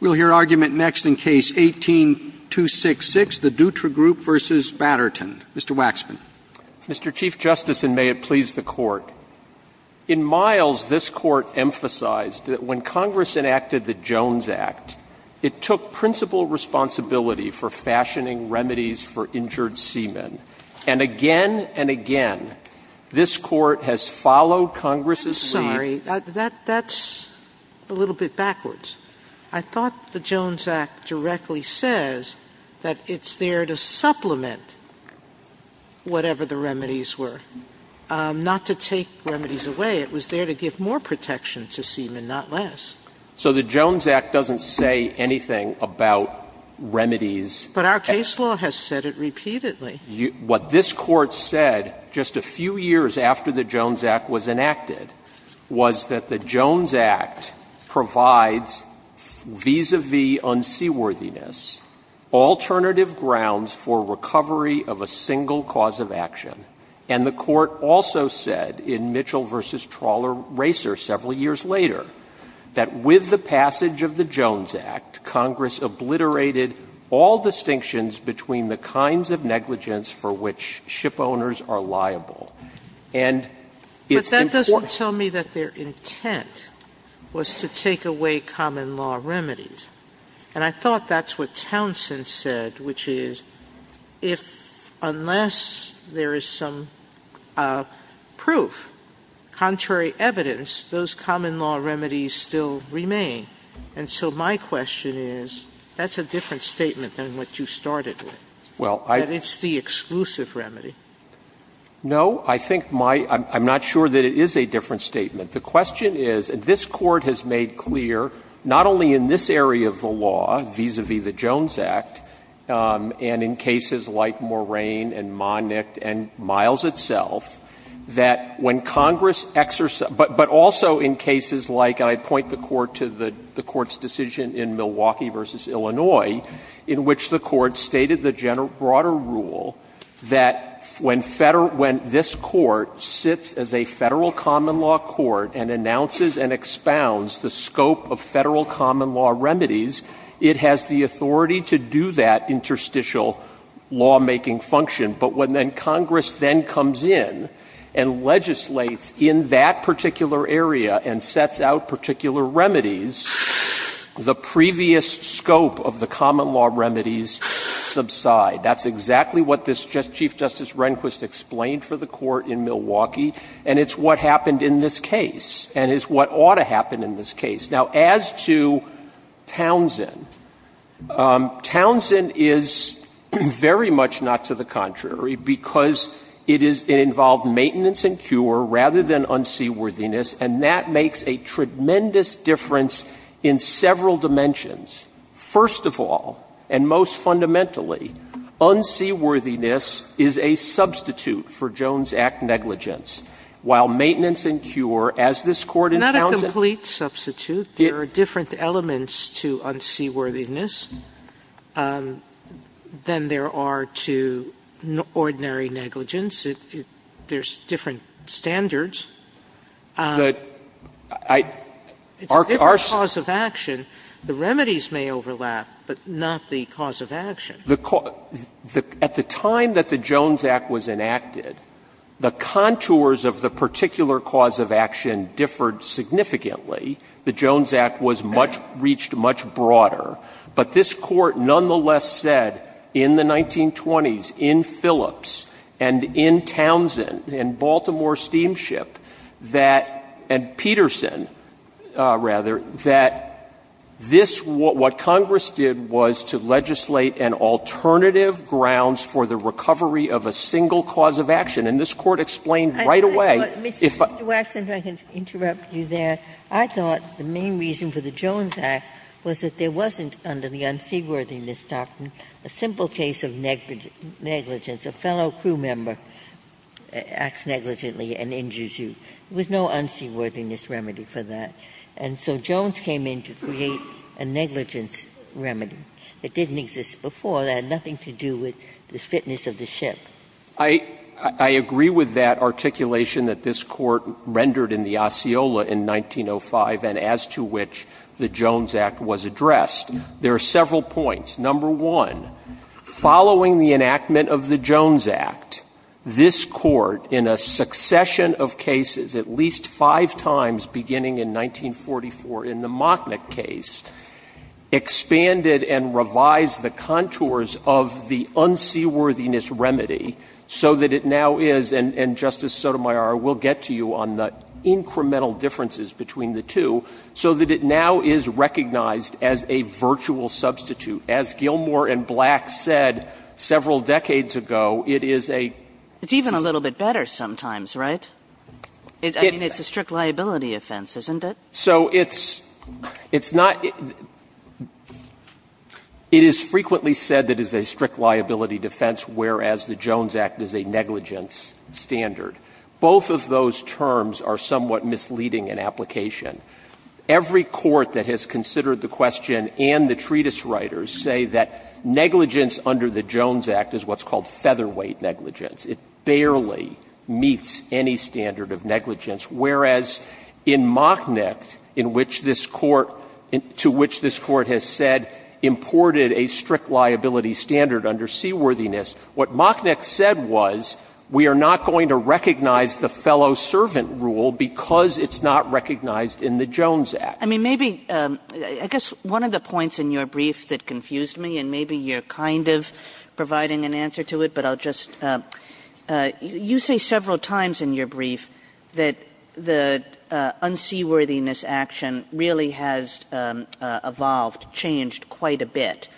We'll hear argument next in Case 18-266, the Dutra Group v. Batterton. Mr. Waxman. Mr. Chief Justice, and may it please the Court, in Miles, this Court emphasized that when Congress enacted the Jones Act, it took principal responsibility for fashioning remedies for injured seamen. And again and again, this Court has followed Congress's lead— Sotomayor I thought the Jones Act directly says that it's there to supplement whatever the remedies were, not to take remedies away. It was there to give more protection to seamen, not less. Waxman So the Jones Act doesn't say anything about remedies— Sotomayor But our case law has said it repeatedly. Waxman What this Court said just a few years after the Jones Act was enacted was that the Jones Act provides, vis-à-vis unseaworthiness, alternative grounds for recovery of a single cause of action. And the Court also said in Mitchell v. Trawler-Racer several years later that with the passage of the Jones Act, Congress obliterated all distinctions between the kinds of negligence for which shipowners are liable. And it's important— Sotomayor But that doesn't tell me that their intent was to take away common law remedies. And I thought that's what Townsend said, which is, if unless there is some proof, contrary evidence, those common law remedies still remain. And so my question is, that's a different statement than what you started with. That it's the exclusive remedy. Waxman No. I think my — I'm not sure that it is a different statement. The question is, this Court has made clear, not only in this area of the law, vis-à-vis the Jones Act, and in cases like Moraine and Monick and Miles itself, that when Congress exer—but also in cases like, and I point the Court to the Court's decision in Milwaukee v. Illinois, in which the Court stated the general—broader rule, that when Federal—when this Court sits as a Federal common law court and announces and expounds the scope of Federal common law remedies, it has the authority to do that interstitial lawmaking function. But when then Congress then comes in and legislates in that particular area and sets out particular remedies, the previous scope of the common law remedies subside. That's exactly what this Chief Justice Rehnquist explained for the Court in Milwaukee, and it's what happened in this case, and it's what ought to happen in this case. Now, as to Townsend, Townsend is very much not to the contrary, because it is — it is a tremendous difference in several dimensions. First of all, and most fundamentally, unseaworthiness is a substitute for Jones Act negligence, while maintenance and cure, as this Court in Townsend— Sotomayor, there are different elements to unseaworthiness than there are to ordinary negligence. There's different standards. It's a different cause of action. The remedies may overlap, but not the cause of action. At the time that the Jones Act was enacted, the contours of the particular cause of action differed significantly. The Jones Act was much — reached much broader. But this Court nonetheless said in the 1920s, in Phillips and in Townsend and Baltimore Steamship, that — and Peterson, rather, that this — what Congress did was to legislate an alternative grounds for the recovery of a single cause of action. And this Court explained right away if a— Ginsburg. Mr. Waxman, if I can interrupt you there. I thought the main reason for the Jones Act was that there wasn't, under the unseaworthiness doctrine, a simple case of negligence. A fellow crew member acts negligently and injures you. There was no unseaworthiness remedy for that. And so Jones came in to create a negligence remedy that didn't exist before. It had nothing to do with the fitness of the ship. Waxman. I agree with that articulation that this Court rendered in the Osceola in 1905 and as to which the Jones Act was addressed. There are several points. Number one, following the enactment of the Jones Act, this Court, in a succession of cases, at least five times beginning in 1944 in the Mocknick case, expanded and revised the contours of the unseaworthiness remedy so that it now is — and, Justice Sotomayor, we'll get to you on the incremental differences between the two — so as Gilmour and Black said several decades ago, it is a — It's even a little bit better sometimes, right? I mean, it's a strict liability offense, isn't it? So it's — it's not — it is frequently said that it is a strict liability defense, whereas the Jones Act is a negligence standard. Both of those terms are somewhat misleading in application. Every court that has considered the question and the treatise writers say that negligence under the Jones Act is what's called featherweight negligence. It barely meets any standard of negligence, whereas in Mocknick, in which this Court — to which this Court has said imported a strict liability standard under seaworthiness, what Mocknick said was, we are not going to recognize the fellow-servant rule because it's not recognized in the Jones Act. I mean, maybe — I guess one of the points in your brief that confused me, and maybe you're kind of providing an answer to it, but I'll just — you say several times in your brief that the unseaworthiness action really has evolved, changed quite a bit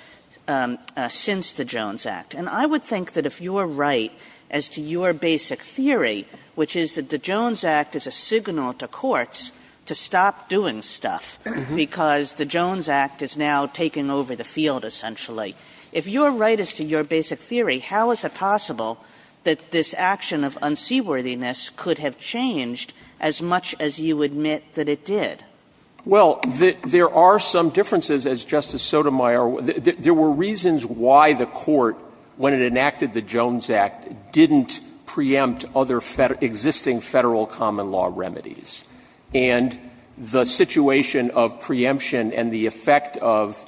since the Jones Act, and I would think that if you are right as to your basic theory, which is that the Jones Act is a signal to courts to stop doing stuff because the Jones Act is now taking over the field, essentially, if you are right as to your basic theory, how is it possible that this action of unseaworthiness could have changed as much as you admit that it did? Waxman, Well, there are some differences, as Justice Sotomayor — there were reasons why the Court, when it enacted the Jones Act, didn't preempt other existing Federal common-law remedies. And the situation of preemption and the effect of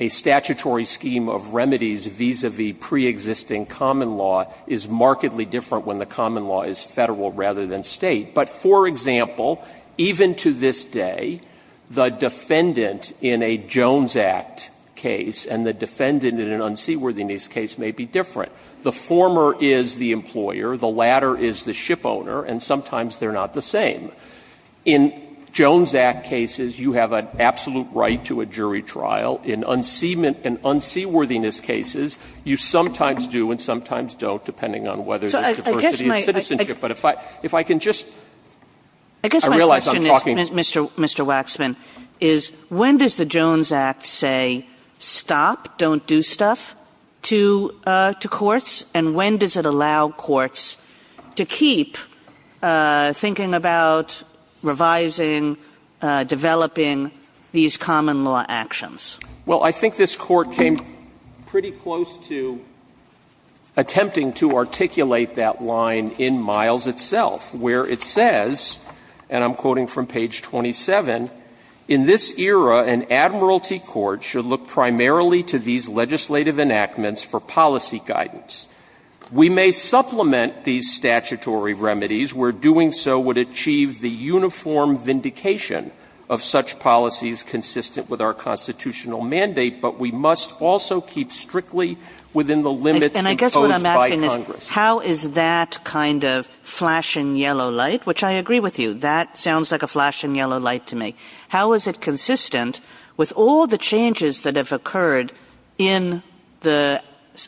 a statutory scheme of remedies vis-a-vis preexisting common law is markedly different when the common law is Federal rather than State. But, for example, even to this day, the defendant in a Jones Act case and the defendant in an unseaworthiness case may be different. The former is the employer, the latter is the shipowner, and sometimes they are not the same. In Jones Act cases, you have an absolute right to a jury trial. In unseaworthiness cases, you sometimes do and sometimes don't, depending on whether there is diversity of citizenship. But if I can just — I realize I'm talking— When does the Jones Act say, stop, don't do stuff, to courts? And when does it allow courts to keep thinking about revising, developing these common-law actions? Waxman, Well, I think this Court came pretty close to attempting to articulate that line in Miles itself, where it says, and I'm quoting from page 27, In this era, an admiralty court should look primarily to these legislative enactments for policy guidance. We may supplement these statutory remedies where doing so would achieve the uniform vindication of such policies consistent with our constitutional mandate, but we must also keep strictly within the limits imposed by Congress. Kagan. And I guess what I'm asking is, how is that kind of flashing yellow light, which I agree with you. That sounds like a flashing yellow light to me. How is it consistent with all the changes that have occurred in the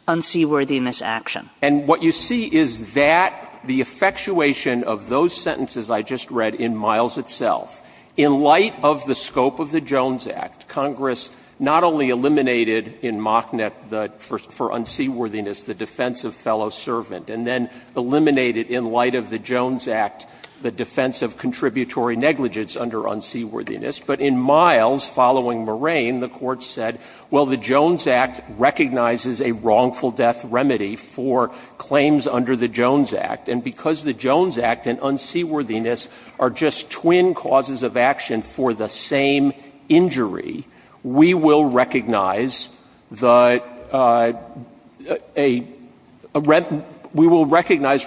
unseaworthiness action? Waxman. And what you see is that the effectuation of those sentences I just read in Miles itself, in light of the scope of the Jones Act, Congress not only eliminated in Mocknett the — for unseaworthiness, the defense of fellow servant, and then eliminated in light of the Jones Act the defense of contributory negligence under unseaworthiness. But in Miles, following Moraine, the Court said, well, the Jones Act recognizes a wrongful death remedy for claims under the Jones Act, and because the Jones Act and unseaworthiness are just twin causes of action for the same injury, we will recognize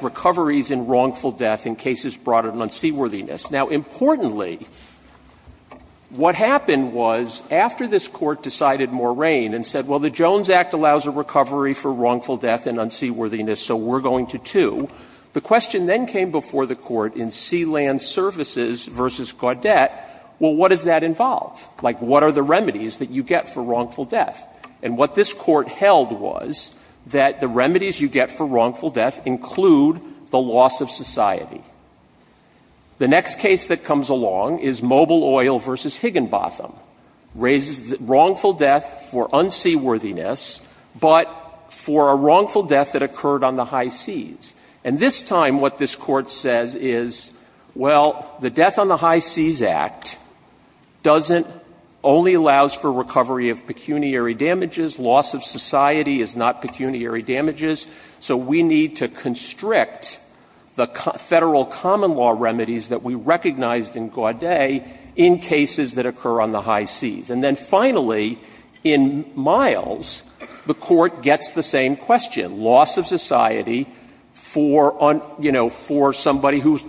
recoveries in wrongful death in cases broader than unseaworthiness. Now, importantly, what happened was, after this Court decided Moraine and said, well, the Jones Act allows a recovery for wrongful death and unseaworthiness, so we're going to, too, the question then came before the Court in Sealand Services v. Gaudet, well, what does that involve? Like, what are the remedies that you get for wrongful death? And what this Court held was that the remedies you get for wrongful death include the loss of society. The next case that comes along is Mobile Oil v. Higginbotham, raises the wrongful death for unseaworthiness, but for a wrongful death that occurred on the high seas. And this time what this Court says is, well, the Death on the High Seas Act doesn't only allow for recovery of pecuniary damages, loss of society is not pecuniary damages, so we need to constrict the Federal common law remedies that we recognized in Gaudet in cases that occur on the high seas. And then finally, in Miles, the Court gets the same question, loss of society for, you know, for somebody who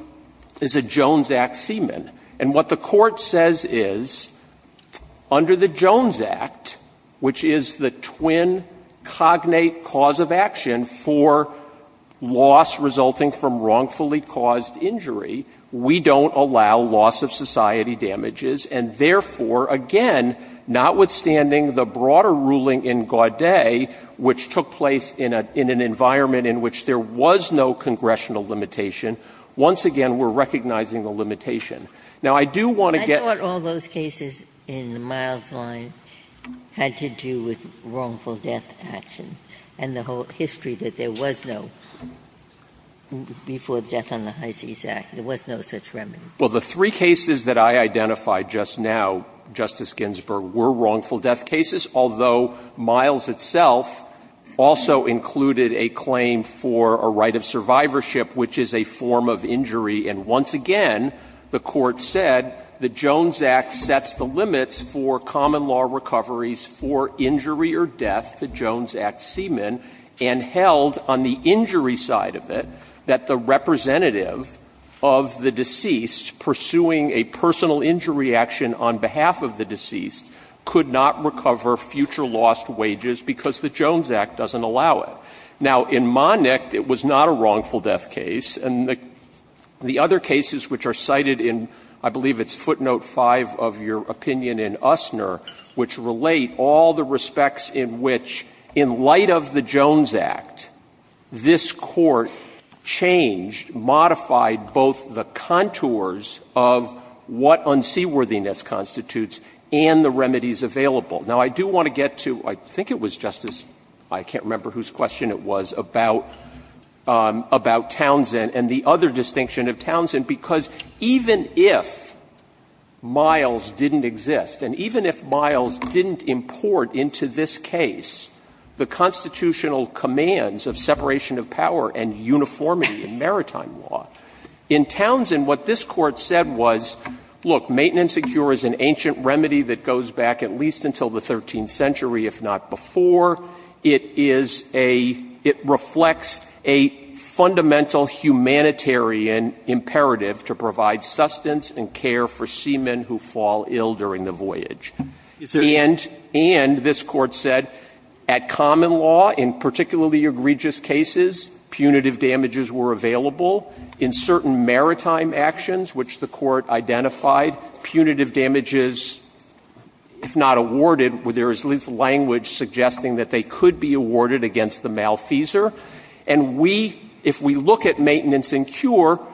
is a Jones Act seaman. And what the Court says is, under the Jones Act, which is the twin cognate cause of action for loss resulting from wrongfully caused injury, we don't allow loss of society damages, and therefore, again, notwithstanding the broader ruling in Gaudet, which took place in an environment in which there was no congressional limitation, once again we're recognizing the limitation. Now, I do want to get to the point. I don't think there's any historical history that there was no, before Death on the High Seas Act, there was no such remedy. Well, the three cases that I identified just now, Justice Ginsburg, were wrongful death cases, although Miles itself also included a claim for a right of survivorship, which is a form of injury. And once again, the Court said the Jones Act sets the limits for common law recoveries for injury or death, the Jones Act seaman, and held on the injury side of it that the representative of the deceased pursuing a personal injury action on behalf of the deceased could not recover future lost wages because the Jones Act doesn't allow it. Now, in Monick, it was not a wrongful death case, and the other cases which are cited in, I believe it's footnote 5 of your opinion in Usner, which relate all the respects in which, in light of the Jones Act, this Court changed, modified both the contours of what unseaworthiness constitutes and the remedies available. Now, I do want to get to, I think it was, Justice — I can't remember whose question it was about Townsend and the other distinction of Townsend, because even if Miles didn't exist, and even if Miles didn't import into this case the constitutional commands of separation of power and uniformity in maritime law, in Townsend, what this Court said was, look, maintenance secure is an ancient remedy that goes back at least until the 13th century, if not before. It is a — it reflects a fundamental humanitarian imperative to provide sustenance and care for seamen who fall ill during the voyage. And this Court said at common law, in particularly egregious cases, punitive damages were available. In certain maritime actions, which the Court identified, punitive damages, if not awarded, there is at least language suggesting that they could be awarded against the malfeasor. And we, if we look at maintenance and cure,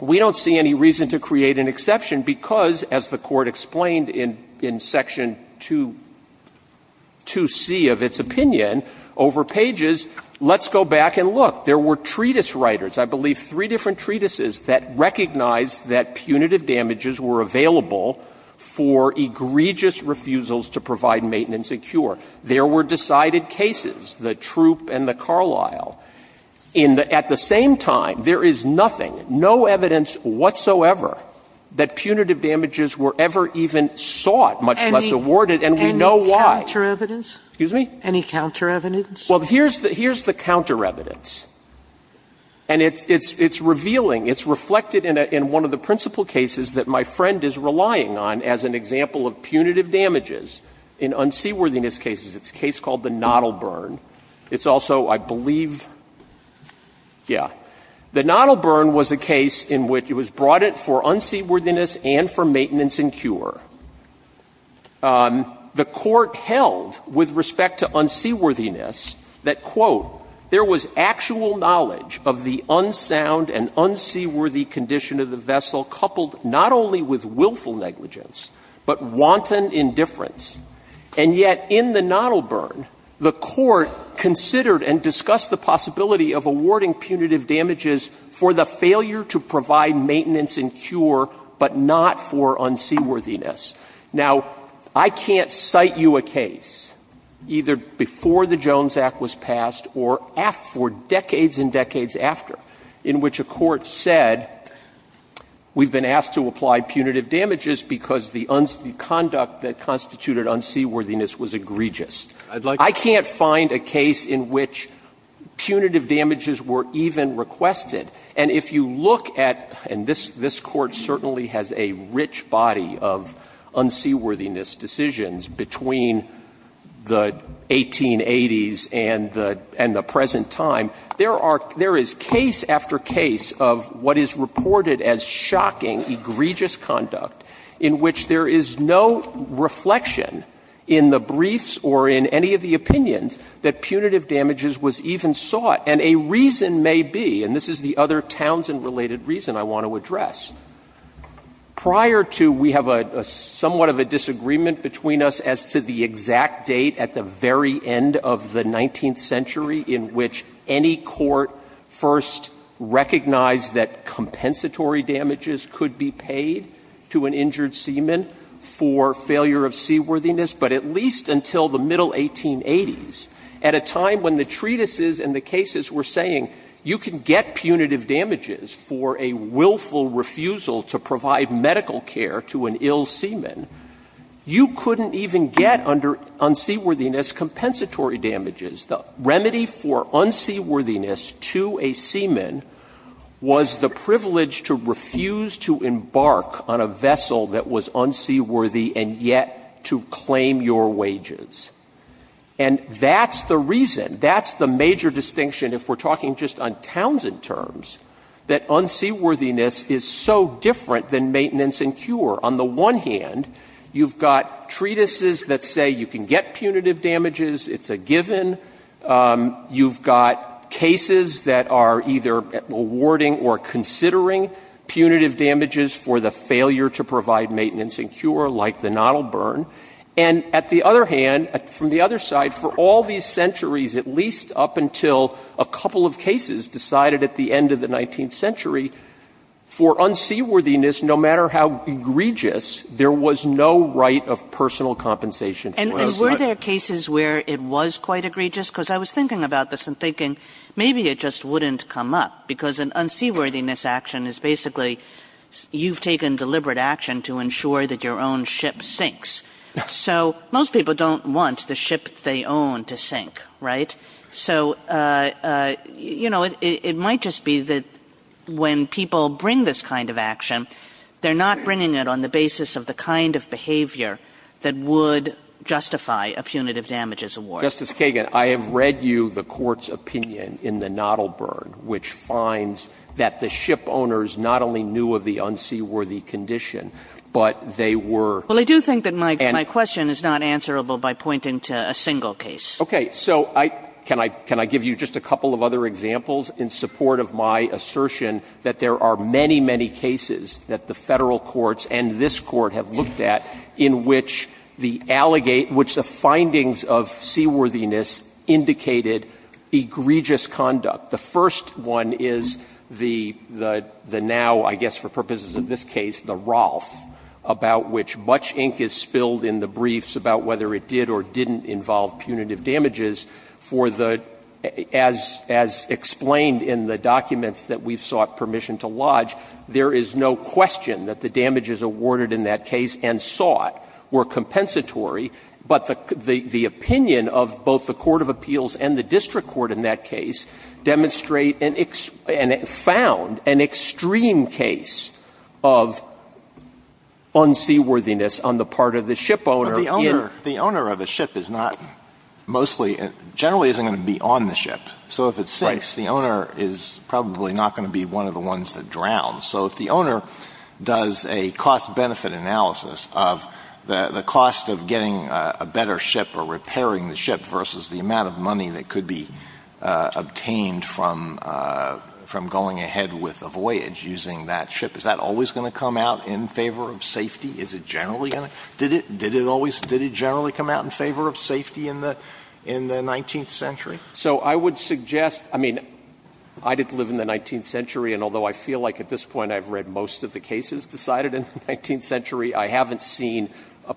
we don't see any reason to create an exception because, as the Court explained in section 2C of its opinion over pages, let's go back and look. There were treatise writers, I believe three different treatises, that recognized that punitive damages were available for egregious refusals to provide maintenance and cure. There were decided cases, the Troup and the Carlisle. In the — at the same time, there is nothing, no evidence whatsoever that punitive damages were ever even sought, much less awarded, and we know why. Sotomayor, any counter-evidence? Waxman, excuse me? Sotomayor, any counter-evidence? Waxman, well, here's the counter-evidence, and it's revealing, it's reflected in one of the principal cases that my friend is relying on as an example of punitive damages in unseaworthiness cases. It's a case called the Nottleburn. It's also, I believe, yeah. The Nottleburn was a case in which it was brought in for unseaworthiness and for maintenance and cure. The Court held, with respect to unseaworthiness, that, quote, there was actual knowledge of the unsound and unseaworthy condition of the vessel, coupled not only with willful negligence, but wanton indifference. And yet, in the Nottleburn, the Court considered and discussed the possibility of awarding punitive damages for the failure to provide maintenance and cure, but not for unseaworthiness. Now, I can't cite you a case, either before the Jones Act was passed or after decades after, in which a court said, we've been asked to apply punitive damages because the conduct that constituted unseaworthiness was egregious. I can't find a case in which punitive damages were even requested. And if you look at, and this Court certainly has a rich body of unseaworthiness decisions between the 1880s and the present time, there are case after case of what is reported as shocking, egregious conduct, in which there is no reflection in the briefs or in any of the opinions that punitive damages was even sought. And a reason may be, and this is the other Townsend-related reason I want to address. Prior to, we have a somewhat of a disagreement between us as to the exact date at the very end of the 19th century in which any court first recognized that compensatory damages could be paid to an injured seaman for failure of seaworthiness, but at least until the middle 1880s, at a time when the treatises and the cases were saying, you can get punitive damages for a willful refusal to provide medical care to an ill seaman, you couldn't even get under unseaworthiness compensatory damages. The remedy for unseaworthiness to a seaman was the privilege to refuse to embark on a vessel that was unseaworthy and yet to claim your wages. And that's the reason. That's the major distinction if we're talking just on Townsend terms, that unseaworthiness is so different than maintenance and cure. On the one hand, you've got treatises that say you can get punitive damages, it's a given. You've got cases that are either awarding or considering punitive damages for the failure to provide maintenance and cure, like the Nottle Burn. And at the other hand, from the other side, for all these centuries, at least up until a couple of cases decided at the end of the 19th century, for unseaworthiness, no matter how egregious, there was no right of personal compensation. Kagan. And were there cases where it was quite egregious? Because I was thinking about this and thinking maybe it just wouldn't come up, because an unseaworthiness action is basically you've taken deliberate action to ensure that your own ship sinks. So most people don't want the ship they own to sink, right? So, you know, it might just be that when people bring this kind of action, they're not bringing it on the basis of the kind of behavior that would justify a punitive damages award. Justice Kagan, I have read you the Court's opinion in the Nottle Burn, which finds that the ship owners not only knew of the unseaworthy condition, but they were. Well, I do think that my question is not answerable by pointing to a single case. Okay. So I can I give you just a couple of other examples in support of my assertion that there are many, many cases that the Federal courts and this Court have looked at in which the findings of seaworthiness indicated egregious conduct. The first one is the now, I guess for purposes of this case, the Rolfe, about which much ink is spilled in the briefs about whether it did or didn't involve punitive damages for the, as explained in the documents that we've sought permission to lodge, there is no question that the damages awarded in that case and sought were compensatory, but the opinion of both the court of appeals and the district court in that case demonstrate and found an extreme case of unseaworthiness on the part of the ship owner in. But the owner of a ship is not mostly, generally isn't going to be on the ship. So if it sinks, the owner is probably not going to be one of the ones that drowns. So if the owner does a cost-benefit analysis of the cost of getting a better ship or repairing the ship versus the amount of money that could be obtained from going ahead with a voyage using that ship, is that always going to come out in favor of safety? Is it generally going to? Did it always come out in favor of safety in the 19th century? So I would suggest, I mean, I didn't live in the 19th century, and although I feel like at this point I've read most of the cases decided in the 19th century, I haven't seen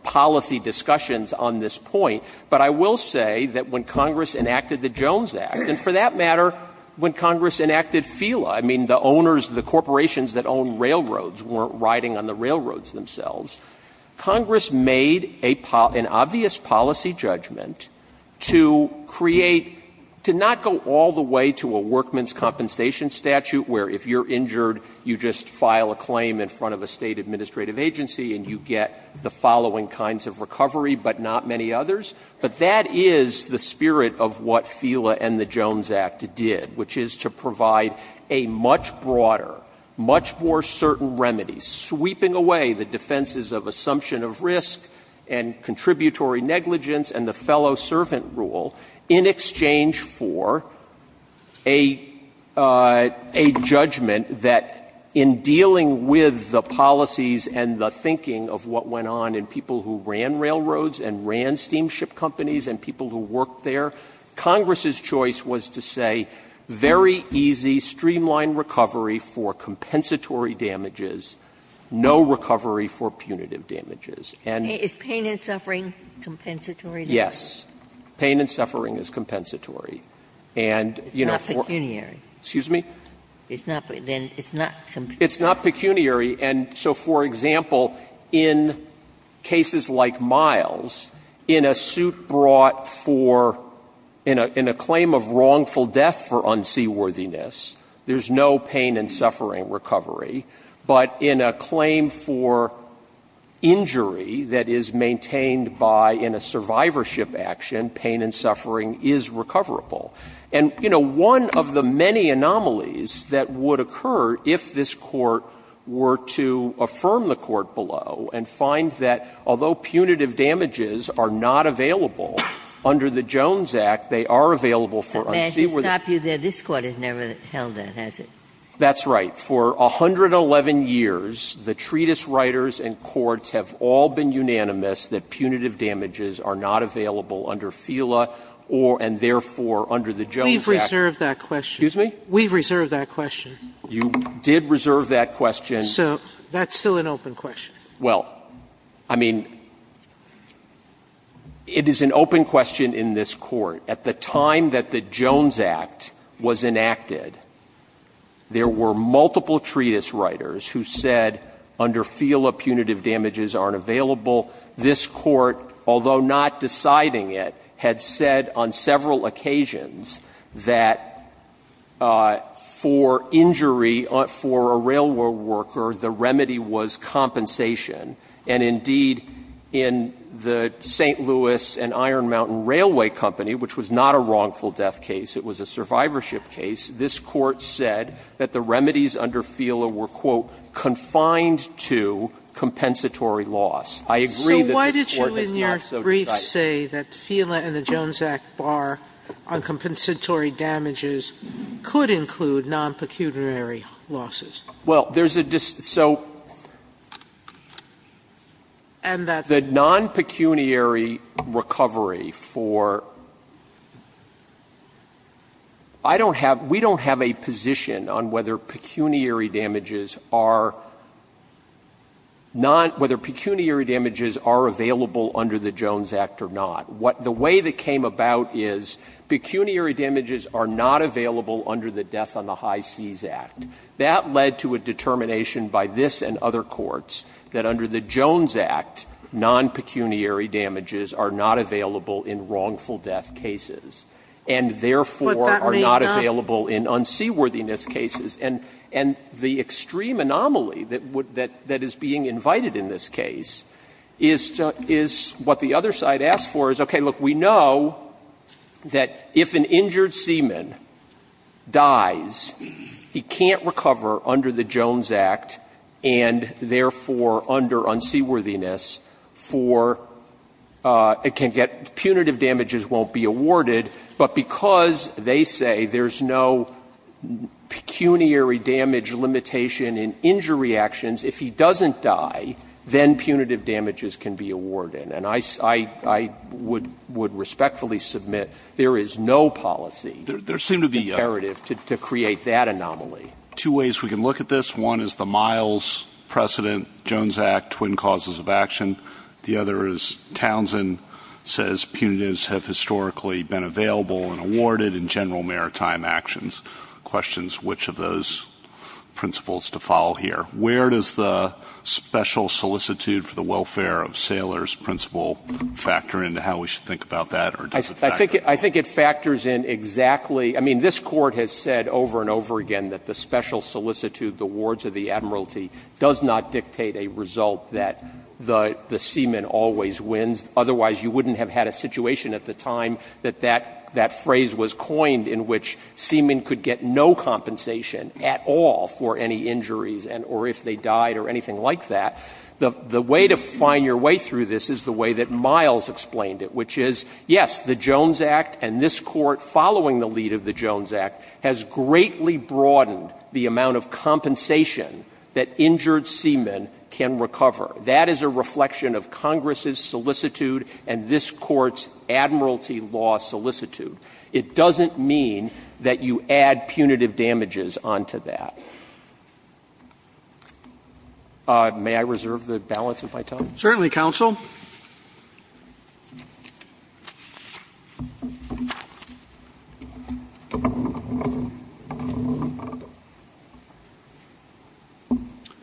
policy discussions on this point, but I will say that when Congress enacted the Jones Act, and for that matter, when Congress enacted FILA, I mean, the owners, the corporations that owned railroads weren't riding on the railroads themselves, Congress made an obvious policy judgment to create, to not go all the way to a workman's compensation statute where if you're injured, you just file a claim in front of a State administrative agency and you get the following kinds of recovery, but not many others. But that is the spirit of what FILA and the Jones Act did, which is to provide a much broader, much more certain remedy, sweeping away the defenses of assumption of risk and contributory negligence and the fellow-servant rule in exchange for a judgment that in dealing with the policies and the thinking of what went on in people who ran railroads and ran steamship companies and people who worked there, Congress's choice was to say very easy, streamlined recovery for compensatory damages, no recovery for punitive damages. And you know, for me, it's not pecuniary. It's not pecuniary. And so, for example, in cases like Miles, in a suit brought for, in a claim of wrongful death for unseaworthiness, there's no pain and suffering recovery. But in a claim for injury that is maintained by, in a survivorship action, pain and suffering is recoverable. And, you know, one of the many anomalies that would occur if this Court were to affirm the Court below and find that although punitive damages are not available under the Jones Act, they are available for unseaworthiness. Ginsburg. This Court has never held that, has it? That's right. For 111 years, the treatise writers and courts have all been unanimous that punitive damages are not available under the Jones Act. We've reserved that question. Excuse me? We've reserved that question. You did reserve that question. So that's still an open question. Well, I mean, it is an open question in this Court. At the time that the Jones Act was enacted, there were multiple treatise writers who said under FILA punitive damages aren't available. This Court, although not deciding it, had said on several occasions that for injury for a railroad worker, the remedy was compensation. And indeed, in the St. Louis and Iron Mountain Railway Company, which was not a wrongful death case, it was a survivorship case, this Court said that the remedies under FILA were, quote, confined to compensatory loss. I agree that this Court is not so decided. Sotomayor, so why did you in your brief say that FILA and the Jones Act bar on compensatory damages could include non-pecuniary losses? Well, there's a dis so. And that the non-pecuniary recovery for, I don't have, we don't have a position on whether pecuniary damages are not, whether pecuniary damages are available under the Jones Act or not. The way that came about is pecuniary damages are not available under the Death on the High Seas Act. That led to a determination by this and other courts that under the Jones Act, non-pecuniary damages are not available in wrongful death cases and therefore are not available in unseaworthiness cases. And the extreme anomaly that would, that is being invited in this case is what the other side asked for is, okay, look, we know that if an injured seaman dies, he can't recover under the Jones Act and therefore under unseaworthiness for, it can get, punitive damages won't be awarded, but because they say there's no pecuniary damage limitation in injury actions, if he doesn't die, then punitive damages can be awarded. And I would respectfully submit there is no policy imperative to create that anomaly. Two ways we can look at this, one is the Miles precedent, Jones Act, twin causes of action, the other is Townsend says punitives have historically been available and awarded in general maritime actions. Questions which of those principles to follow here? Where does the special solicitude for the welfare of sailors principle factor in to how we should think about that, or does it factor in? I think it factors in exactly, I mean, this Court has said over and over again that the special solicitude, the wards of the admiralty, does not dictate a result that the seaman always wins, otherwise you wouldn't have had a situation at the time that that phrase was coined in which seaman could get no compensation at all for any injuries and or if they died or anything like that. The way to find your way through this is the way that Miles explained it, which is, yes, the Jones Act and this Court following the lead of the Jones Act has greatly broadened the amount of compensation that injured seamen can recover. That is a reflection of Congress's solicitude and this Court's admiralty law solicitude. It doesn't mean that you add punitive damages onto that. May I reserve the balance of my time? Roberts. Certainly, counsel.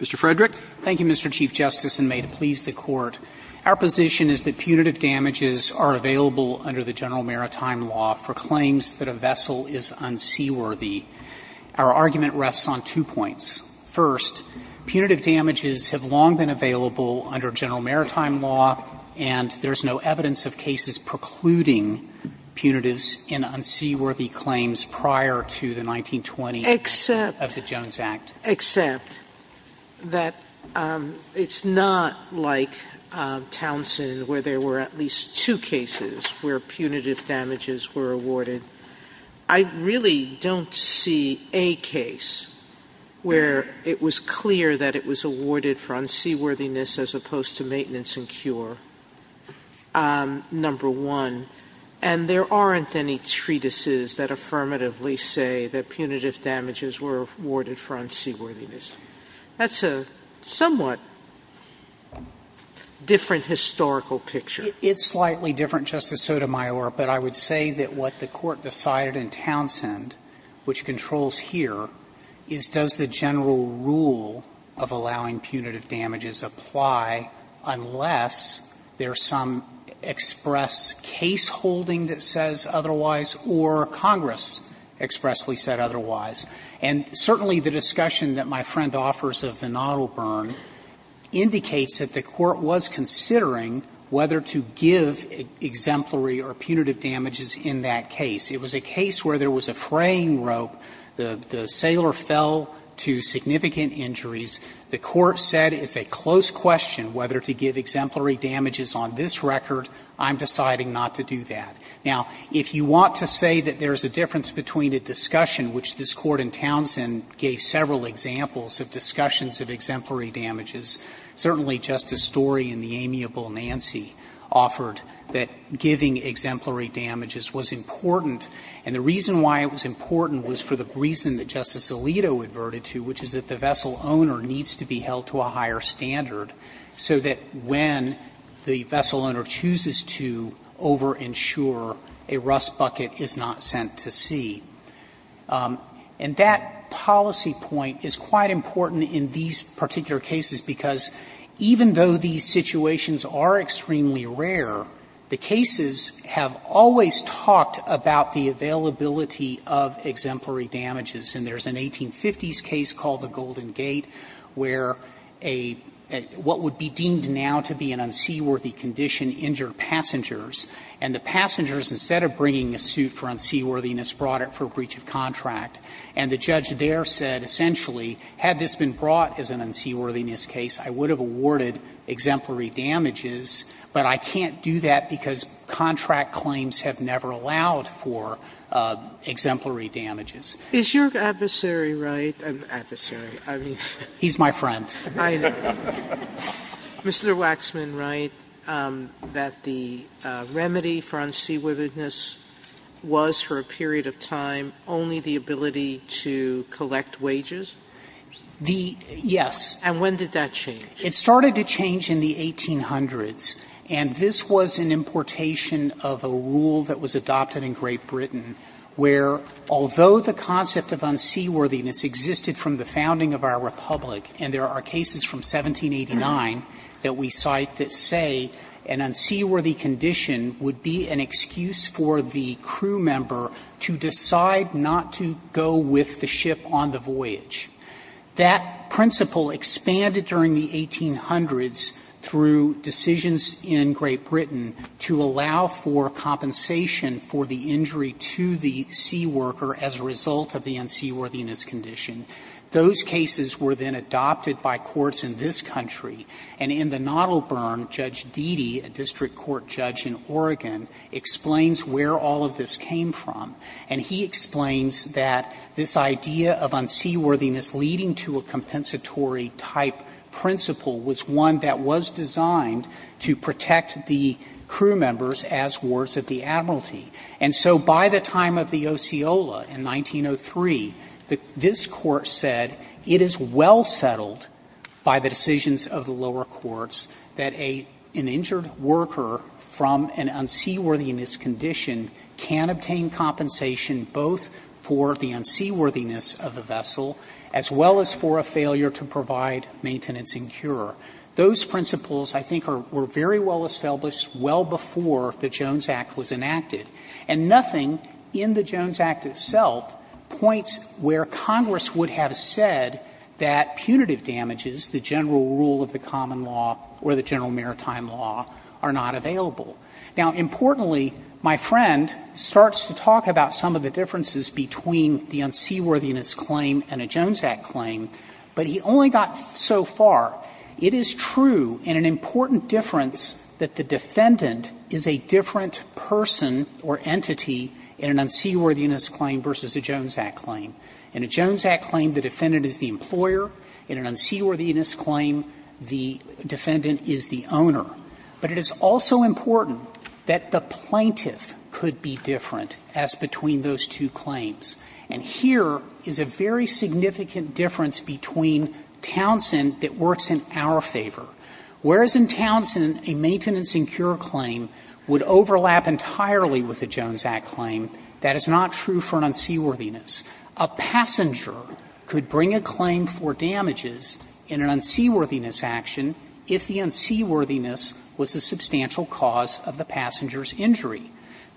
Mr. Frederick. Thank you, Mr. Chief Justice, and may it please the Court. Our position is that punitive damages are available under the general maritime law for claims that a vessel is unseaworthy. Our argument rests on two points. First, punitive damages have long been available under general maritime law, and there is no evidence of cases precluding punitives in unseaworthy claims prior to the 1920 of the Jones Act. Except that it's not like Townsend where there were at least two cases where punitive damages were awarded. I really don't see a case where it was clear that it was awarded for unseaworthiness as opposed to maintenance and cure, number one, and there aren't any treatises that affirmatively say that punitive damages were awarded for unseaworthiness. That's a somewhat different historical picture. It's slightly different, Justice Sotomayor, but I would say that what the Court decided in Townsend, which controls here, is does the general rule of allowing punitive damages apply unless there's some express caseholding that says otherwise or Congress expressly said otherwise. And certainly the discussion that my friend offers of the Nottle burn indicates that the Court was considering whether to give exemplary or punitive damages in that case. It was a case where there was a fraying rope, the sailor fell to significant injuries. The Court said it's a close question whether to give exemplary damages on this record. I'm deciding not to do that. Now, if you want to say that there's a difference between a discussion, which this Court in Townsend gave several examples of discussions of exemplary damages, certainly Justice Story in the amiable Nancy offered that giving exemplary damages was important, and the reason why it was important was for the reason that Justice Alito adverted to, which is that the vessel owner needs to be held to a higher standard so that when the vessel owner chooses to over-insure, a rust bucket is not sent to sea. And that policy point is quite important in these particular cases, because it's important because even though these situations are extremely rare, the cases have always talked about the availability of exemplary damages. And there's an 1850s case called the Golden Gate where a what would be deemed now to be an unseaworthy condition injured passengers, and the passengers, instead of bringing a suit for unseaworthiness, brought it for breach of contract. And the judge there said essentially, had this been brought as an unseaworthiness case, I would have awarded exemplary damages, but I can't do that because contract claims have never allowed for exemplary damages. Sotomayor, is your adversary right? I mean, adversary. I mean, he's my friend. Mr. Waxman, right, that the remedy for unseaworthiness was for a period of time only the ability to collect wages? The yes. And when did that change? It started to change in the 1800s. And this was an importation of a rule that was adopted in Great Britain where, although the concept of unseaworthiness existed from the founding of our Republic, and there are cases from 1789 that we cite that say an unseaworthy condition would be an excuse for the crew member to decide not to go with the ship on the voyage. That principle expanded during the 1800s through decisions in Great Britain to allow for compensation for the injury to the seaworker as a result of the unseaworthiness condition. Those cases were then adopted by courts in this country. And in the Nottleburn, Judge Deedee, a district court judge in Oregon, explains where all of this came from. And he explains that this idea of unseaworthiness leading to a compensatory type principle was one that was designed to protect the crew members as wards of the admiralty. And so by the time of the Osceola in 1903, this Court said it is well settled by the decisions of the lower courts that an injured worker from an unseaworthiness condition can obtain compensation both for the unseaworthiness of the vessel as well as for a failure to provide maintenance and cure. Those principles, I think, were very well established well before the Jones Act was enacted. And nothing in the Jones Act itself points where Congress would have said that punitive damages, the general rule of the common law or the general maritime law, are not available. Now, importantly, my friend starts to talk about some of the differences between the unseaworthiness claim and a Jones Act claim, but he only got so far, it is true in an important difference that the defendant is a different person or entity in an unseaworthiness claim versus a Jones Act claim. In a Jones Act claim, the defendant is the employer. In an unseaworthiness claim, the defendant is the owner. But it is also important that the plaintiff could be different as between those two claims. And here is a very significant difference between Townsend that works in our favor. Whereas in Townsend, a maintenance and cure claim would overlap entirely with a Jones Act claim, that is not true for an unseaworthiness. A passenger could bring a claim for damages in an unseaworthiness action if the unseaworthiness was a substantial cause of the passenger's injury.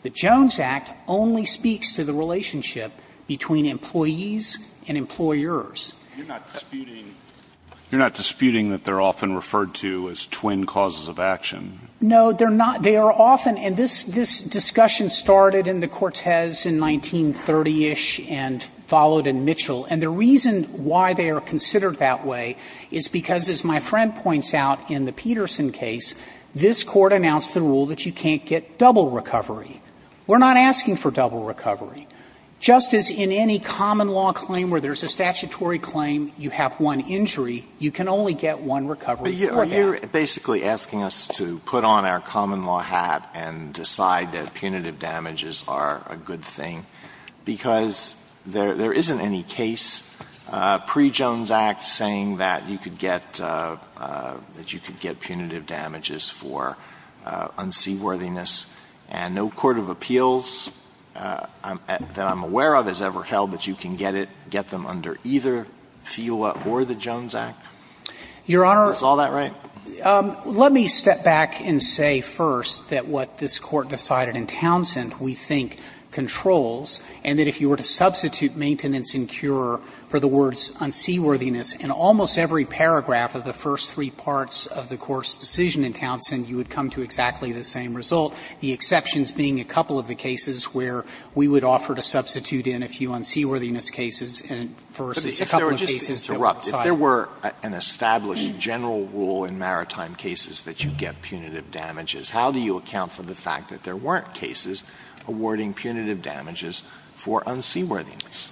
The Jones Act only speaks to the relationship between employees and employers. You are not disputing that they are often referred to as twin causes of action? No, they are not. And this discussion started in the Cortez in 1930-ish and followed in Mitchell. And the reason why they are considered that way is because, as my friend points out in the Peterson case, this Court announced the rule that you can't get double recovery. We are not asking for double recovery. Just as in any common law claim where there is a statutory claim, you have one injury, you can only get one recovery for that. So you are basically asking us to put on our common law hat and decide that punitive damages are a good thing, because there isn't any case pre-Jones Act saying that you could get – that you could get punitive damages for unseaworthiness. And no court of appeals that I'm aware of has ever held that you can get it, get them under either FIWA or the Jones Act? Your Honor. Is all that right? Let me step back and say first that what this Court decided in Townsend, we think, controls, and that if you were to substitute maintenance and cure for the words unseaworthiness in almost every paragraph of the first three parts of the Court's decision in Townsend, you would come to exactly the same result, the exceptions being a couple of the cases where we would offer to substitute in a few unseaworthiness cases versus a couple of cases that were outside. Now, if there were an established general rule in maritime cases that you get punitive damages, how do you account for the fact that there weren't cases awarding punitive damages for unseaworthiness?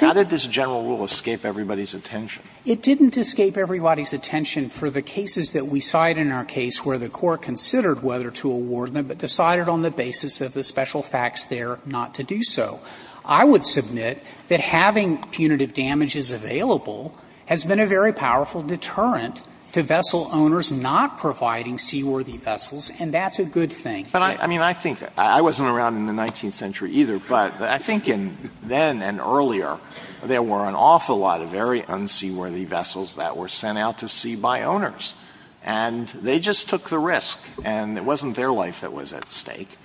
How did this general rule escape everybody's attention? It didn't escape everybody's attention for the cases that we cited in our case where the Court considered whether to award them, but decided on the basis of the special facts there not to do so. I would submit that having punitive damages available has been a very powerful deterrent to vessel owners not providing seaworthy vessels, and that's a good thing. Alito, I mean, I think I wasn't around in the 19th century either, but I think in then and earlier there were an awful lot of very unseaworthy vessels that were sent out to sea by owners, and they just took the risk, and it wasn't their life that was at stake.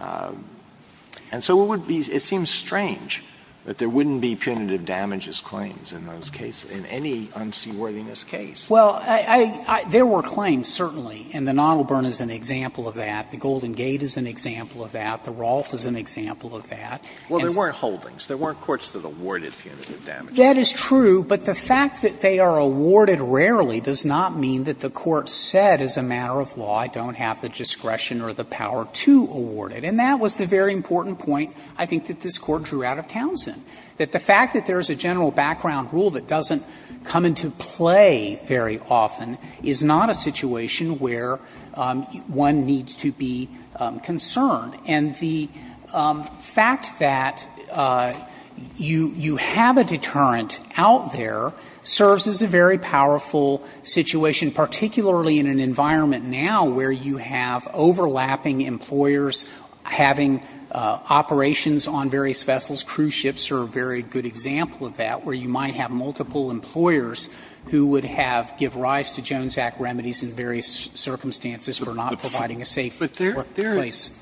And so it would be – it seems strange that there wouldn't be punitive damages claims in those cases, in any unseaworthiness case. Well, I – there were claims, certainly, and the Nautilburn is an example of that. The Golden Gate is an example of that. The Rolfe is an example of that. Well, there weren't holdings. There weren't courts that awarded punitive damages. That is true, but the fact that they are awarded rarely does not mean that the Court has said, as a matter of law, I don't have the discretion or the power to award it. And that was the very important point, I think, that this Court drew out of Townsend, that the fact that there is a general background rule that doesn't come into play very often is not a situation where one needs to be concerned. And the fact that you have a deterrent out there serves as a very powerful situation, particularly in an environment now where you have overlapping employers having operations on various vessels. Cruise ships are a very good example of that, where you might have multiple employers who would have – give rise to Jones Act remedies in various circumstances for not providing a safe workplace.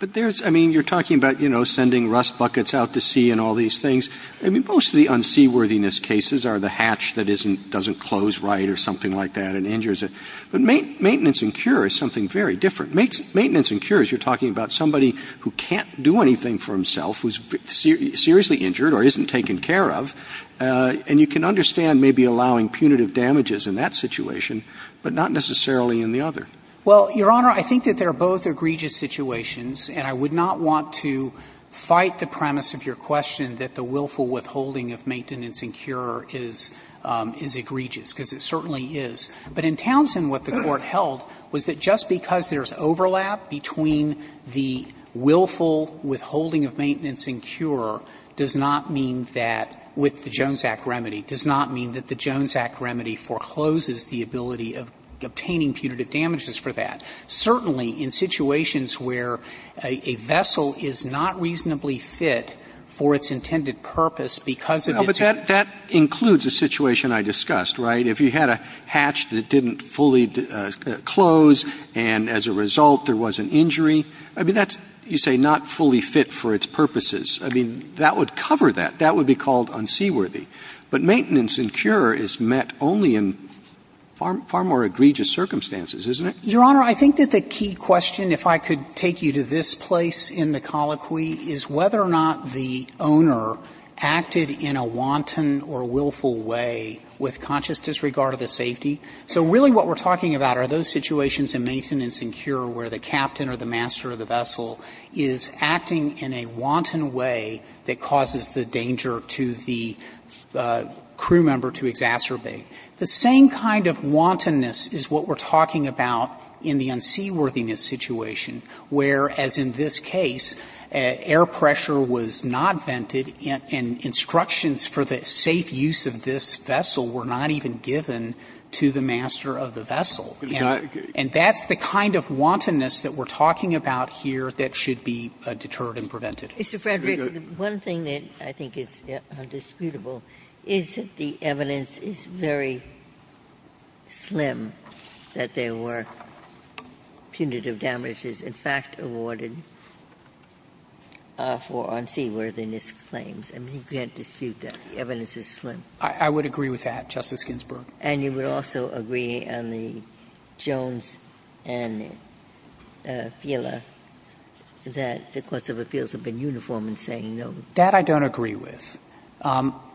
But there's – I mean, you're talking about, you know, sending rust buckets out to sea and all these things. I mean, most of the unseaworthiness cases are the hatch that isn't – doesn't close right or something like that and injures it. But maintenance and cure is something very different. Maintenance and cure is you're talking about somebody who can't do anything for himself, who's seriously injured or isn't taken care of, and you can understand maybe allowing punitive damages in that situation, but not necessarily in the other. Well, Your Honor, I think that they're both egregious situations, and I would not want to fight the premise of your question that the willful withholding of maintenance and cure is egregious, because it certainly is. But in Townsend, what the Court held was that just because there's overlap between the willful withholding of maintenance and cure does not mean that, with the Jones Act remedy, does not mean that the Jones Act remedy forecloses the ability of obtaining punitive damages for that. Certainly, in situations where a vessel is not reasonably fit for its intended purpose because of its own – But that includes the situation I discussed, right? If you had a hatch that didn't fully close and, as a result, there was an injury, I mean, that's, you say, not fully fit for its purposes. I mean, that would cover that. That would be called unseaworthy. But maintenance and cure is met only in far more egregious circumstances, isn't it? Your Honor, I think that the key question, if I could take you to this place in the same kind of wantonness, is what we're talking about in the unseaworthiness situation, where, as in this case, air pressure was not vented in any way, and the vessel acted in a wanton or willful way with conscious disregard of the safety. So really what we're talking about are those situations in maintenance and cure where the captain or the master of the vessel is acting in a wanton way that causes the danger to the crew member to exacerbate. The same kind of wantonness is what we're talking about in the unseaworthiness situation, where, as in this case, air pressure was not vented and instructions for the safe use of this vessel were not even given to the master of the vessel. And that's the kind of wantonness that we're talking about here that should be deterred and prevented. Ginsburg. Mr. Frederick, one thing that I think is undisputable is that the evidence is very slim that there were punitive damages, in fact, awarded for unseaworthiness claims. I mean, you can't dispute that. The evidence is slim. I would agree with that, Justice Ginsburg. And you would also agree on the Jones and Fila that the courts of appeals have been uniform in saying no. That I don't agree with.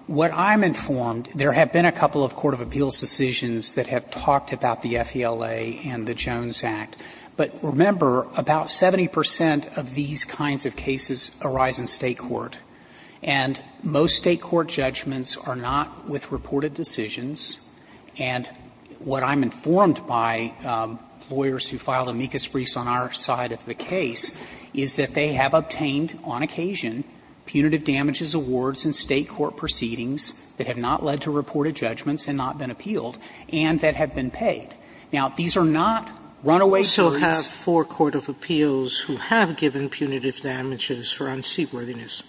What I'm informed, there have been a couple of court of appeals decisions that have talked about the FILA and the Jones Act. But remember, about 70 percent of these kinds of cases arise in State court. And most State court judgments are not with reported decisions. And what I'm informed by, lawyers who filed amicus briefs on our side of the case, is that they have obtained, on occasion, punitive damages awards in State court proceedings that have not led to reported judgments and not been appealed, and that have been paid. Now, these are not runaway fees. Sotomayor, we also have four court of appeals who have given punitive damages for unseaworthiness.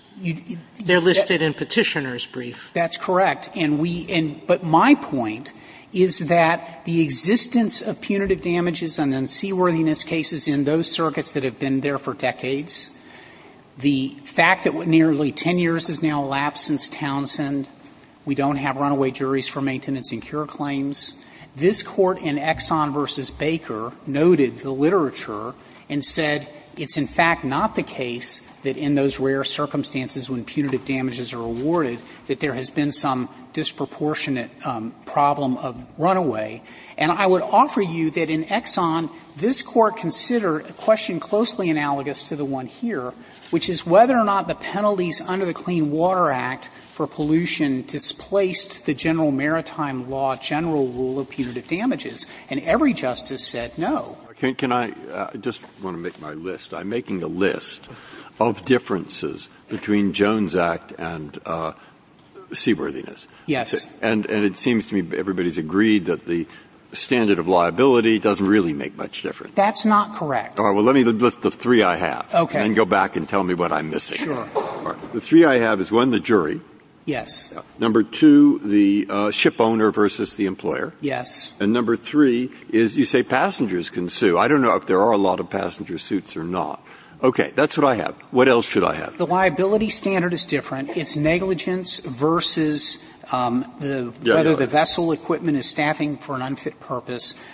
They're listed in Petitioner's brief. That's correct. And we – but my point is that the existence of punitive damages on unseaworthiness cases in those circuits that have been there for decades, the fact that nearly 10 years has now elapsed since Townsend, we don't have runaway juries for maintenance and cure claims, this Court in Exxon v. Baker noted the literature and said it's in fact not the case that in those rare circumstances when punitive damages are awarded that there has been some disproportionate problem of runaway. And I would offer you that in Exxon, this Court considered a question closely analogous to the one here, which is whether or not the penalties under the Clean Water Act for pollution displaced the general maritime law general rule of punitive damages. And every justice said no. Breyer, I just want to make my list. I'm making a list of differences between Jones Act and seaworthiness. Yes. And it seems to me everybody's agreed that the standard of liability doesn't really make much difference. That's not correct. All right. Well, let me list the three I have. Okay. And then go back and tell me what I'm missing. Sure. All right. The three I have is, one, the jury. Yes. Number two, the shipowner versus the employer. Yes. And number three is you say passengers can sue. I don't know if there are a lot of passenger suits or not. Okay. That's what I have. What else should I have? The liability standard is different. It's negligence versus whether the vessel equipment is staffing for an unfit purpose.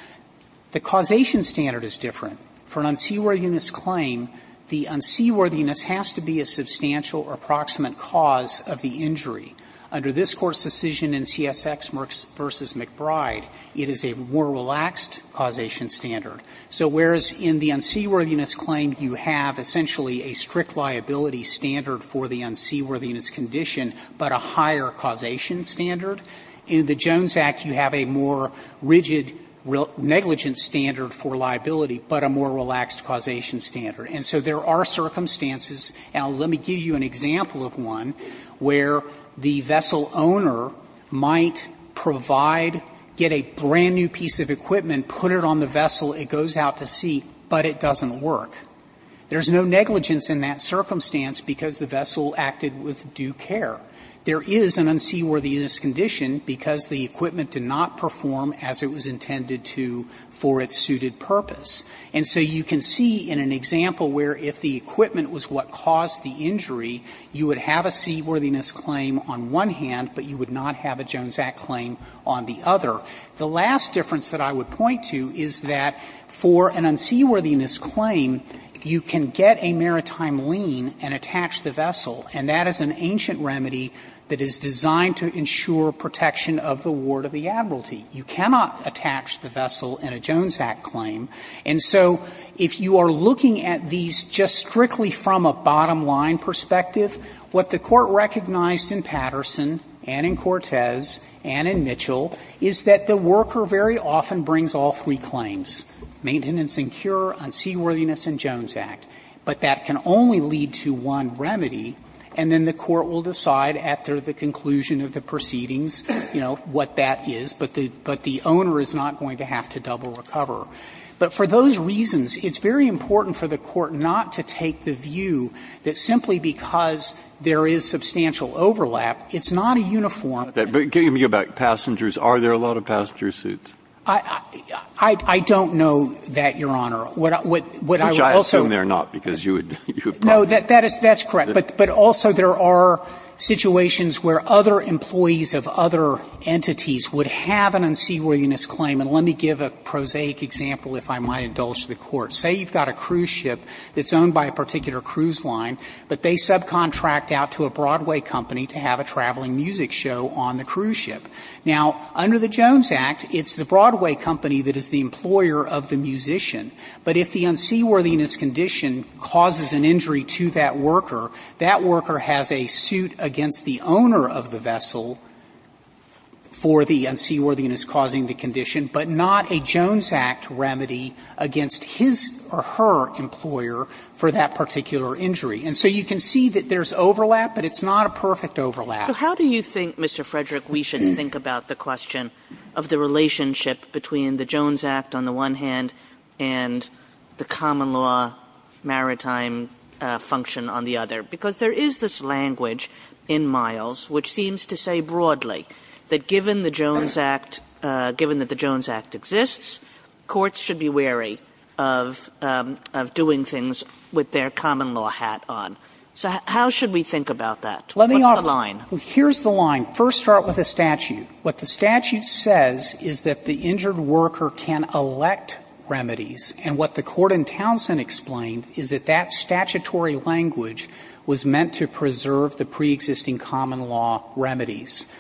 The causation standard is different. For an unseaworthiness claim, the unseaworthiness has to be a substantial or approximate cause of the injury. Under this Court's decision in CSX v. McBride, it is a more relaxed causation standard. So whereas in the unseaworthiness claim, you have essentially a strict liability standard for the unseaworthiness condition, but a higher causation standard, in the Jones Act you have a more rigid negligence standard for liability, but a more relaxed causation standard. And so there are circumstances, and let me give you an example of one, where the vessel owner might provide, get a brand-new piece of equipment, put it on the vessel, it goes out to sea, but it doesn't work. There is no negligence in that circumstance because the vessel acted with due care. There is an unseaworthiness condition because the equipment did not perform as it was intended to for its suited purpose. And so you can see in an example where if the equipment was what caused the injury, you would have a seaworthiness claim on one hand, but you would not have a Jones Act claim on the other. The last difference that I would point to is that for an unseaworthiness claim, you can get a maritime lien and attach the vessel, and that is an ancient remedy that is designed to ensure protection of the ward of the admiralty. You cannot attach the vessel in a Jones Act claim. And so if you are looking at these just strictly from a bottom-line perspective, what the Court recognized in Patterson and in Cortez and in Mitchell is that the worker very often brings all three claims, maintenance and cure, unseaworthiness and Jones Act, but that can only lead to one remedy, and then the Court will decide after the conclusion of the proceedings, you know, what that is, but the owner is not going to have to double recover. But for those reasons, it's very important for the Court not to take the view that simply because there is substantial overlap, it's not a uniform. Breyer, giving me about passengers, are there a lot of passenger suits? I don't know that, Your Honor. What I would also say is that there are not, because you would probably know that. No, that's correct. But also there are situations where other employees of other entities would have an unseaworthiness claim, and let me give a prosaic example, if I might indulge the Court. Say you've got a cruise ship that's owned by a particular cruise line, but they subcontract out to a Broadway company to have a traveling music show on the cruise ship. Now, under the Jones Act, it's the Broadway company that is the employer of the musician. But if the unseaworthiness condition causes an injury to that worker, that worker has a suit against the owner of the vessel for the unseaworthiness causing the condition, but not a Jones Act remedy against his or her employer for that particular injury. And so you can see that there's overlap, but it's not a perfect overlap. Kagan. So how do you think, Mr. Frederick, we should think about the question of the relationship between the Jones Act on the one hand and the common law maritime function on the other? Because there is this language in Miles which seems to say broadly that given the Jones Act, given that the Jones Act exists, courts should be wary of doing things with their common law hat on. So how should we think about that? What's the line? Frederick. Well, here's the line. First, start with a statute. What the statute says is that the injured worker can elect remedies, and what the statutory language was meant to preserve the preexisting common law remedies.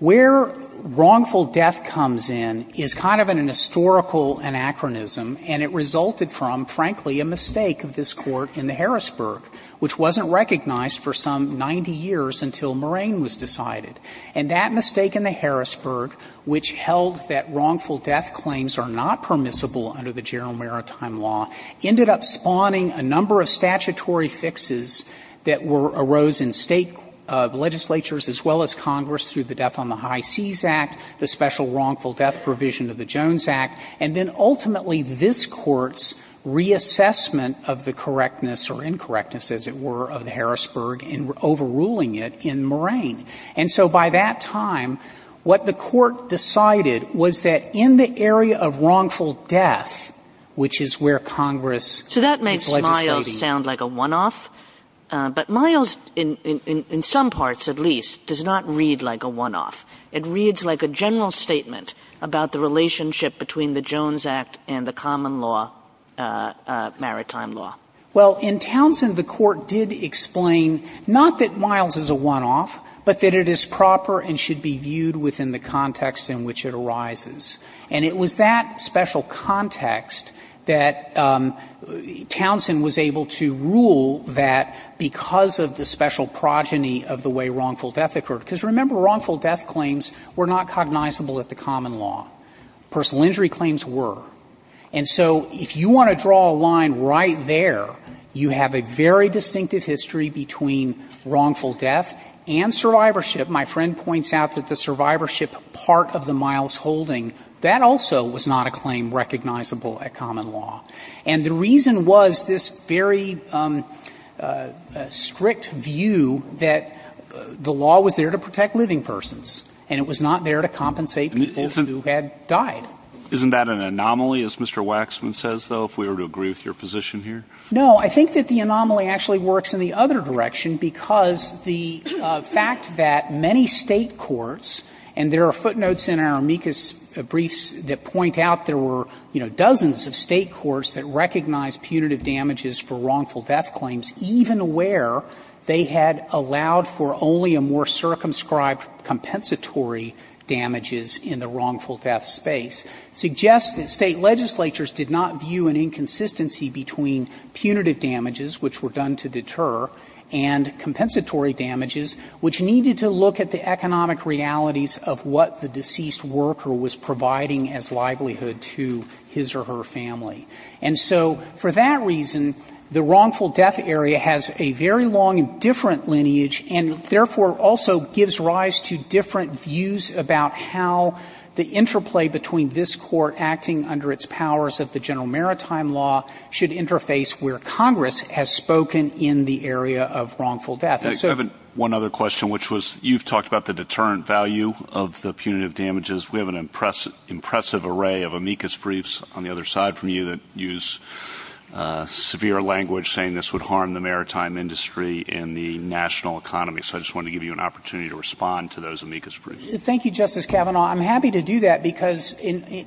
Where wrongful death comes in is kind of an historical anachronism, and it resulted from, frankly, a mistake of this Court in the Harrisburg, which wasn't recognized for some 90 years until Moraine was decided. And that mistake in the Harrisburg, which held that wrongful death claims are not statutory fixes that were arose in State legislatures, as well as Congress, through the Death on the High Seas Act, the special wrongful death provision of the Jones Act, and then ultimately this Court's reassessment of the correctness or incorrectness, as it were, of the Harrisburg and overruling it in Moraine. And so by that time, what the Court decided was that in the area of wrongful death, which is where Congress is legislating. Kagan in some parts, at least, does not read like a one-off. It reads like a general statement about the relationship between the Jones Act and the common law, maritime law. Well, in Townsend, the Court did explain not that Miles is a one-off, but that it is proper and should be viewed within the context in which it arises. And it was that special context that Townsend was able to rule that because of the special progeny of the way wrongful death occurred. Because remember, wrongful death claims were not cognizable at the common law. Personal injury claims were. And so if you want to draw a line right there, you have a very distinctive history between wrongful death and survivorship. My friend points out that the survivorship part of the Miles holding, that also was not a claim recognizable at common law. And the reason was this very strict view that the law was there to protect living persons, and it was not there to compensate people who had died. Isn't that an anomaly, as Mr. Waxman says, though, if we were to agree with your position here? No. I think that the anomaly actually works in the other direction, because the fact that many State courts, and there are footnotes in our amicus briefs that point out there were, you know, dozens of State courts that recognized punitive damages for wrongful death claims, even where they had allowed for only a more circumscribed compensatory damages in the wrongful death space, suggests that State legislatures did not view an inconsistency between punitive damages, which were done to deter, and compensatory damages, which needed to look at the economic realities of what the deceased worker was providing as livelihood to his or her family. And so for that reason, the wrongful death area has a very long and different lineage, and therefore also gives rise to different views about how the interplay between this Court acting under its powers of the general maritime law should interface with the areas where Congress has spoken in the area of wrongful death. And so the other question, which was, you've talked about the deterrent value of the punitive damages. We have an impressive array of amicus briefs on the other side from you that use severe language saying this would harm the maritime industry and the national economy. So I just wanted to give you an opportunity to respond to those amicus briefs. Thank you, Justice Kavanaugh. I'm happy to do that, because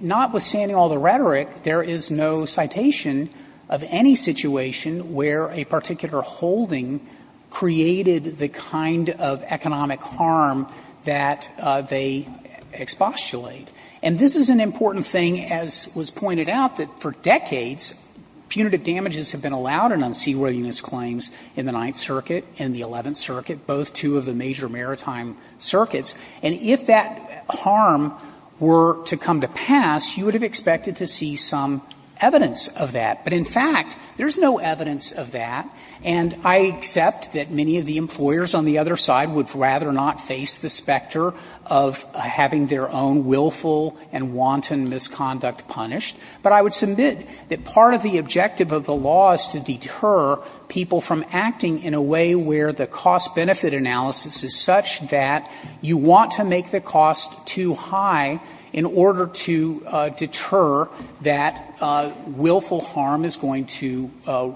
notwithstanding all the rhetoric, there is no citation of any situation where a particular holding created the kind of economic harm that they expostulate. And this is an important thing, as was pointed out, that for decades punitive damages have been allowed in unseaworthiness claims in the Ninth Circuit and the Eleventh Circuit, both two of the major maritime circuits. And if that harm were to come to pass, you would have expected to see some evidence of that. But in fact, there is no evidence of that. And I accept that many of the employers on the other side would rather not face the specter of having their own willful and wanton misconduct punished. But I would submit that part of the objective of the law is to deter people from acting in a way where the cost-benefit analysis is such that you want to make the willful harm is going to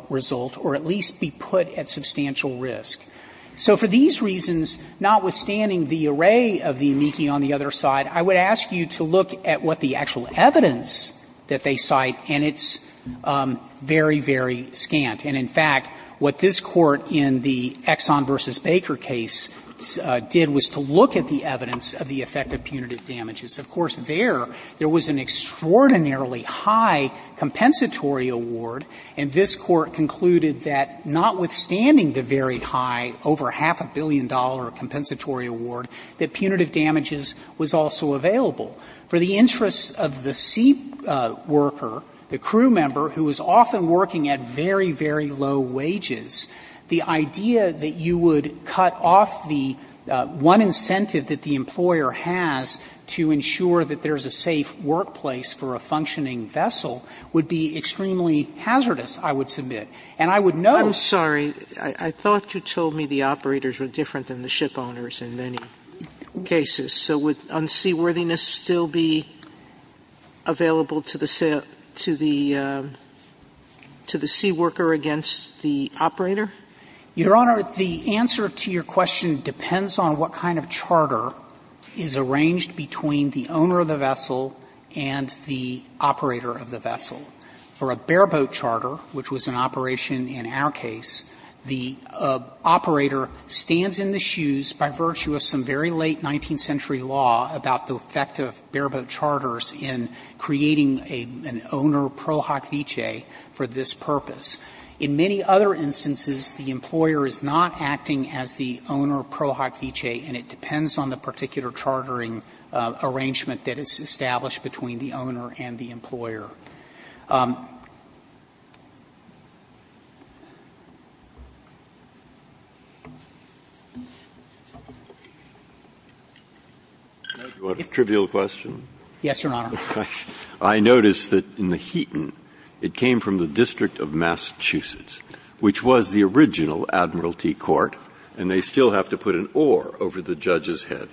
result or at least be put at substantial risk. So for these reasons, notwithstanding the array of the amici on the other side, I would ask you to look at what the actual evidence that they cite, and it's very, very scant. And in fact, what this Court in the Exxon v. Baker case did was to look at the evidence of the effect of punitive damages. Of course, there, there was an extraordinarily high compensatory award, and this Court concluded that notwithstanding the very high, over half a billion dollar compensatory award, that punitive damages was also available. For the interests of the seat worker, the crew member, who was often working at very, very low wages, the idea that you would cut off the one incentive that the employer has to ensure that there's a safe workplace for a functioning vessel would be extremely hazardous, I would submit. Sotomayor I'm sorry, I thought you told me the operators were different than the ship owners in many cases. So would unseaworthiness still be available to the sea worker against the operator? Your Honor, the answer to your question depends on what kind of charter is arranged between the owner of the vessel and the operator of the vessel. For a bareboat charter, which was an operation in our case, the operator stands in the shoes by virtue of some very late 19th century law about the effect of bareboat charters in creating an owner pro hoc vitae for this purpose. In many other instances, the employer is not acting as the owner pro hoc vitae, and it depends on the particular chartering arrangement that is established between the owner and the employer. Breyer. Yes, Your Honor. I noticed that in the Heaton, it came from the District of Massachusetts, which was the original admiralty court, and they still have to put an oar over the judge's head.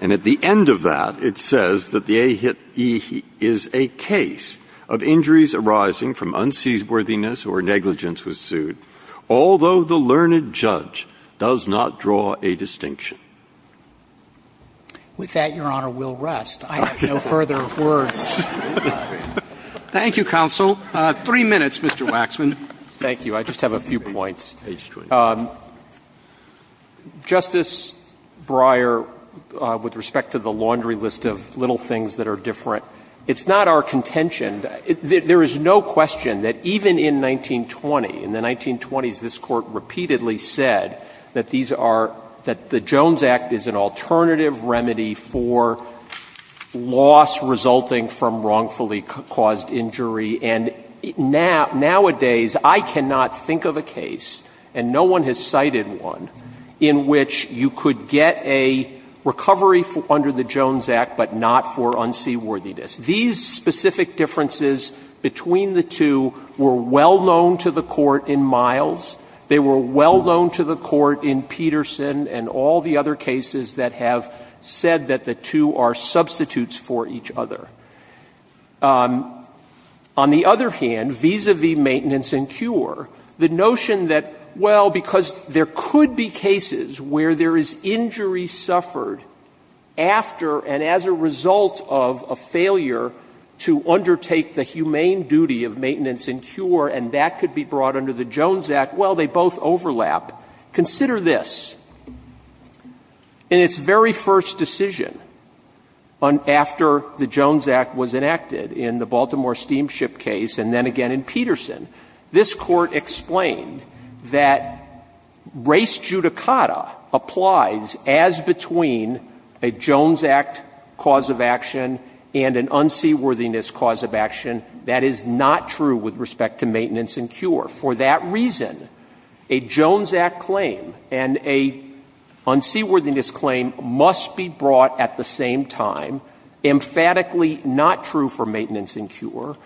And at the end of that, it says that the A-Hit-E is a case of injuries arising from unseaworthiness or negligence was sued, although the learned judge does not draw a distinction. With that, Your Honor, we'll rest. I have no further words. Roberts. Thank you, counsel. Three minutes, Mr. Waxman. Thank you. I just have a few points. Justice Breyer, with respect to the laundry list of little things that are different, it's not our contention. There is no question that even in 1920, in the 1920s, this Court repeatedly said that these are, that the Jones Act is an alternative remedy for loss resulting from wrongfully caused injury. And nowadays, I cannot think of a case, and no one has cited one, in which you could get a recovery under the Jones Act, but not for unseaworthiness. These specific differences between the two were well known to the Court in Miles. They were well known to the Court in Peterson and all the other cases that have said that the two are substitutes for each other. On the other hand, vis-à-vis maintenance and cure, the notion that, well, because there could be cases where there is injury suffered after and as a result of a failure to undertake the humane duty of maintenance and cure, and that could be brought under the Jones Act, well, they both overlap. Consider this. In its very first decision, after the Jones Act was enacted in the Baltimore Steamship case and then again in Peterson, this Court explained that race judicata applies as between a Jones Act cause of action and an unseaworthiness cause of action. That is not true with respect to maintenance and cure. For that reason, a Jones Act claim and an unseaworthiness claim must be brought at the same time, emphatically not true for maintenance and cure.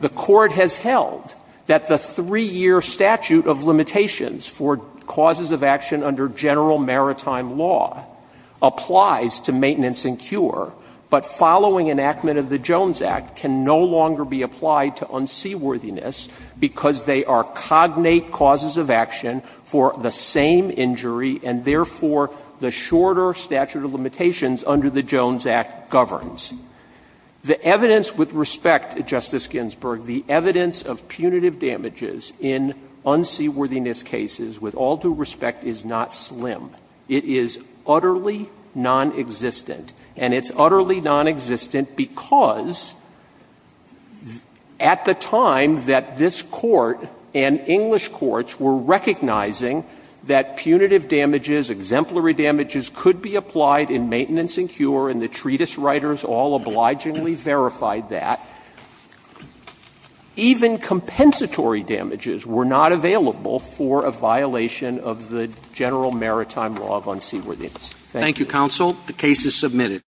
The Court has held that the 3-year statute of limitations for causes of action under general maritime law applies to maintenance and cure, but following enactment of the Jones Act can no longer be applied to unseaworthiness because they are cognate causes of action for the same injury and therefore the shorter statute of limitations under the Jones Act governs. The evidence with respect, Justice Ginsburg, the evidence of punitive damages in unseaworthiness cases with all due respect is not slim. It is utterly nonexistent. And it's utterly nonexistent because at the time that this Court and English courts were recognizing that punitive damages, exemplary damages could be applied in maintenance and cure, and the treatise writers all obligingly verified that, even compensatory damages were not available for a violation of the general maritime law of unseaworthiness. Thank you. Roberts. The case is submitted.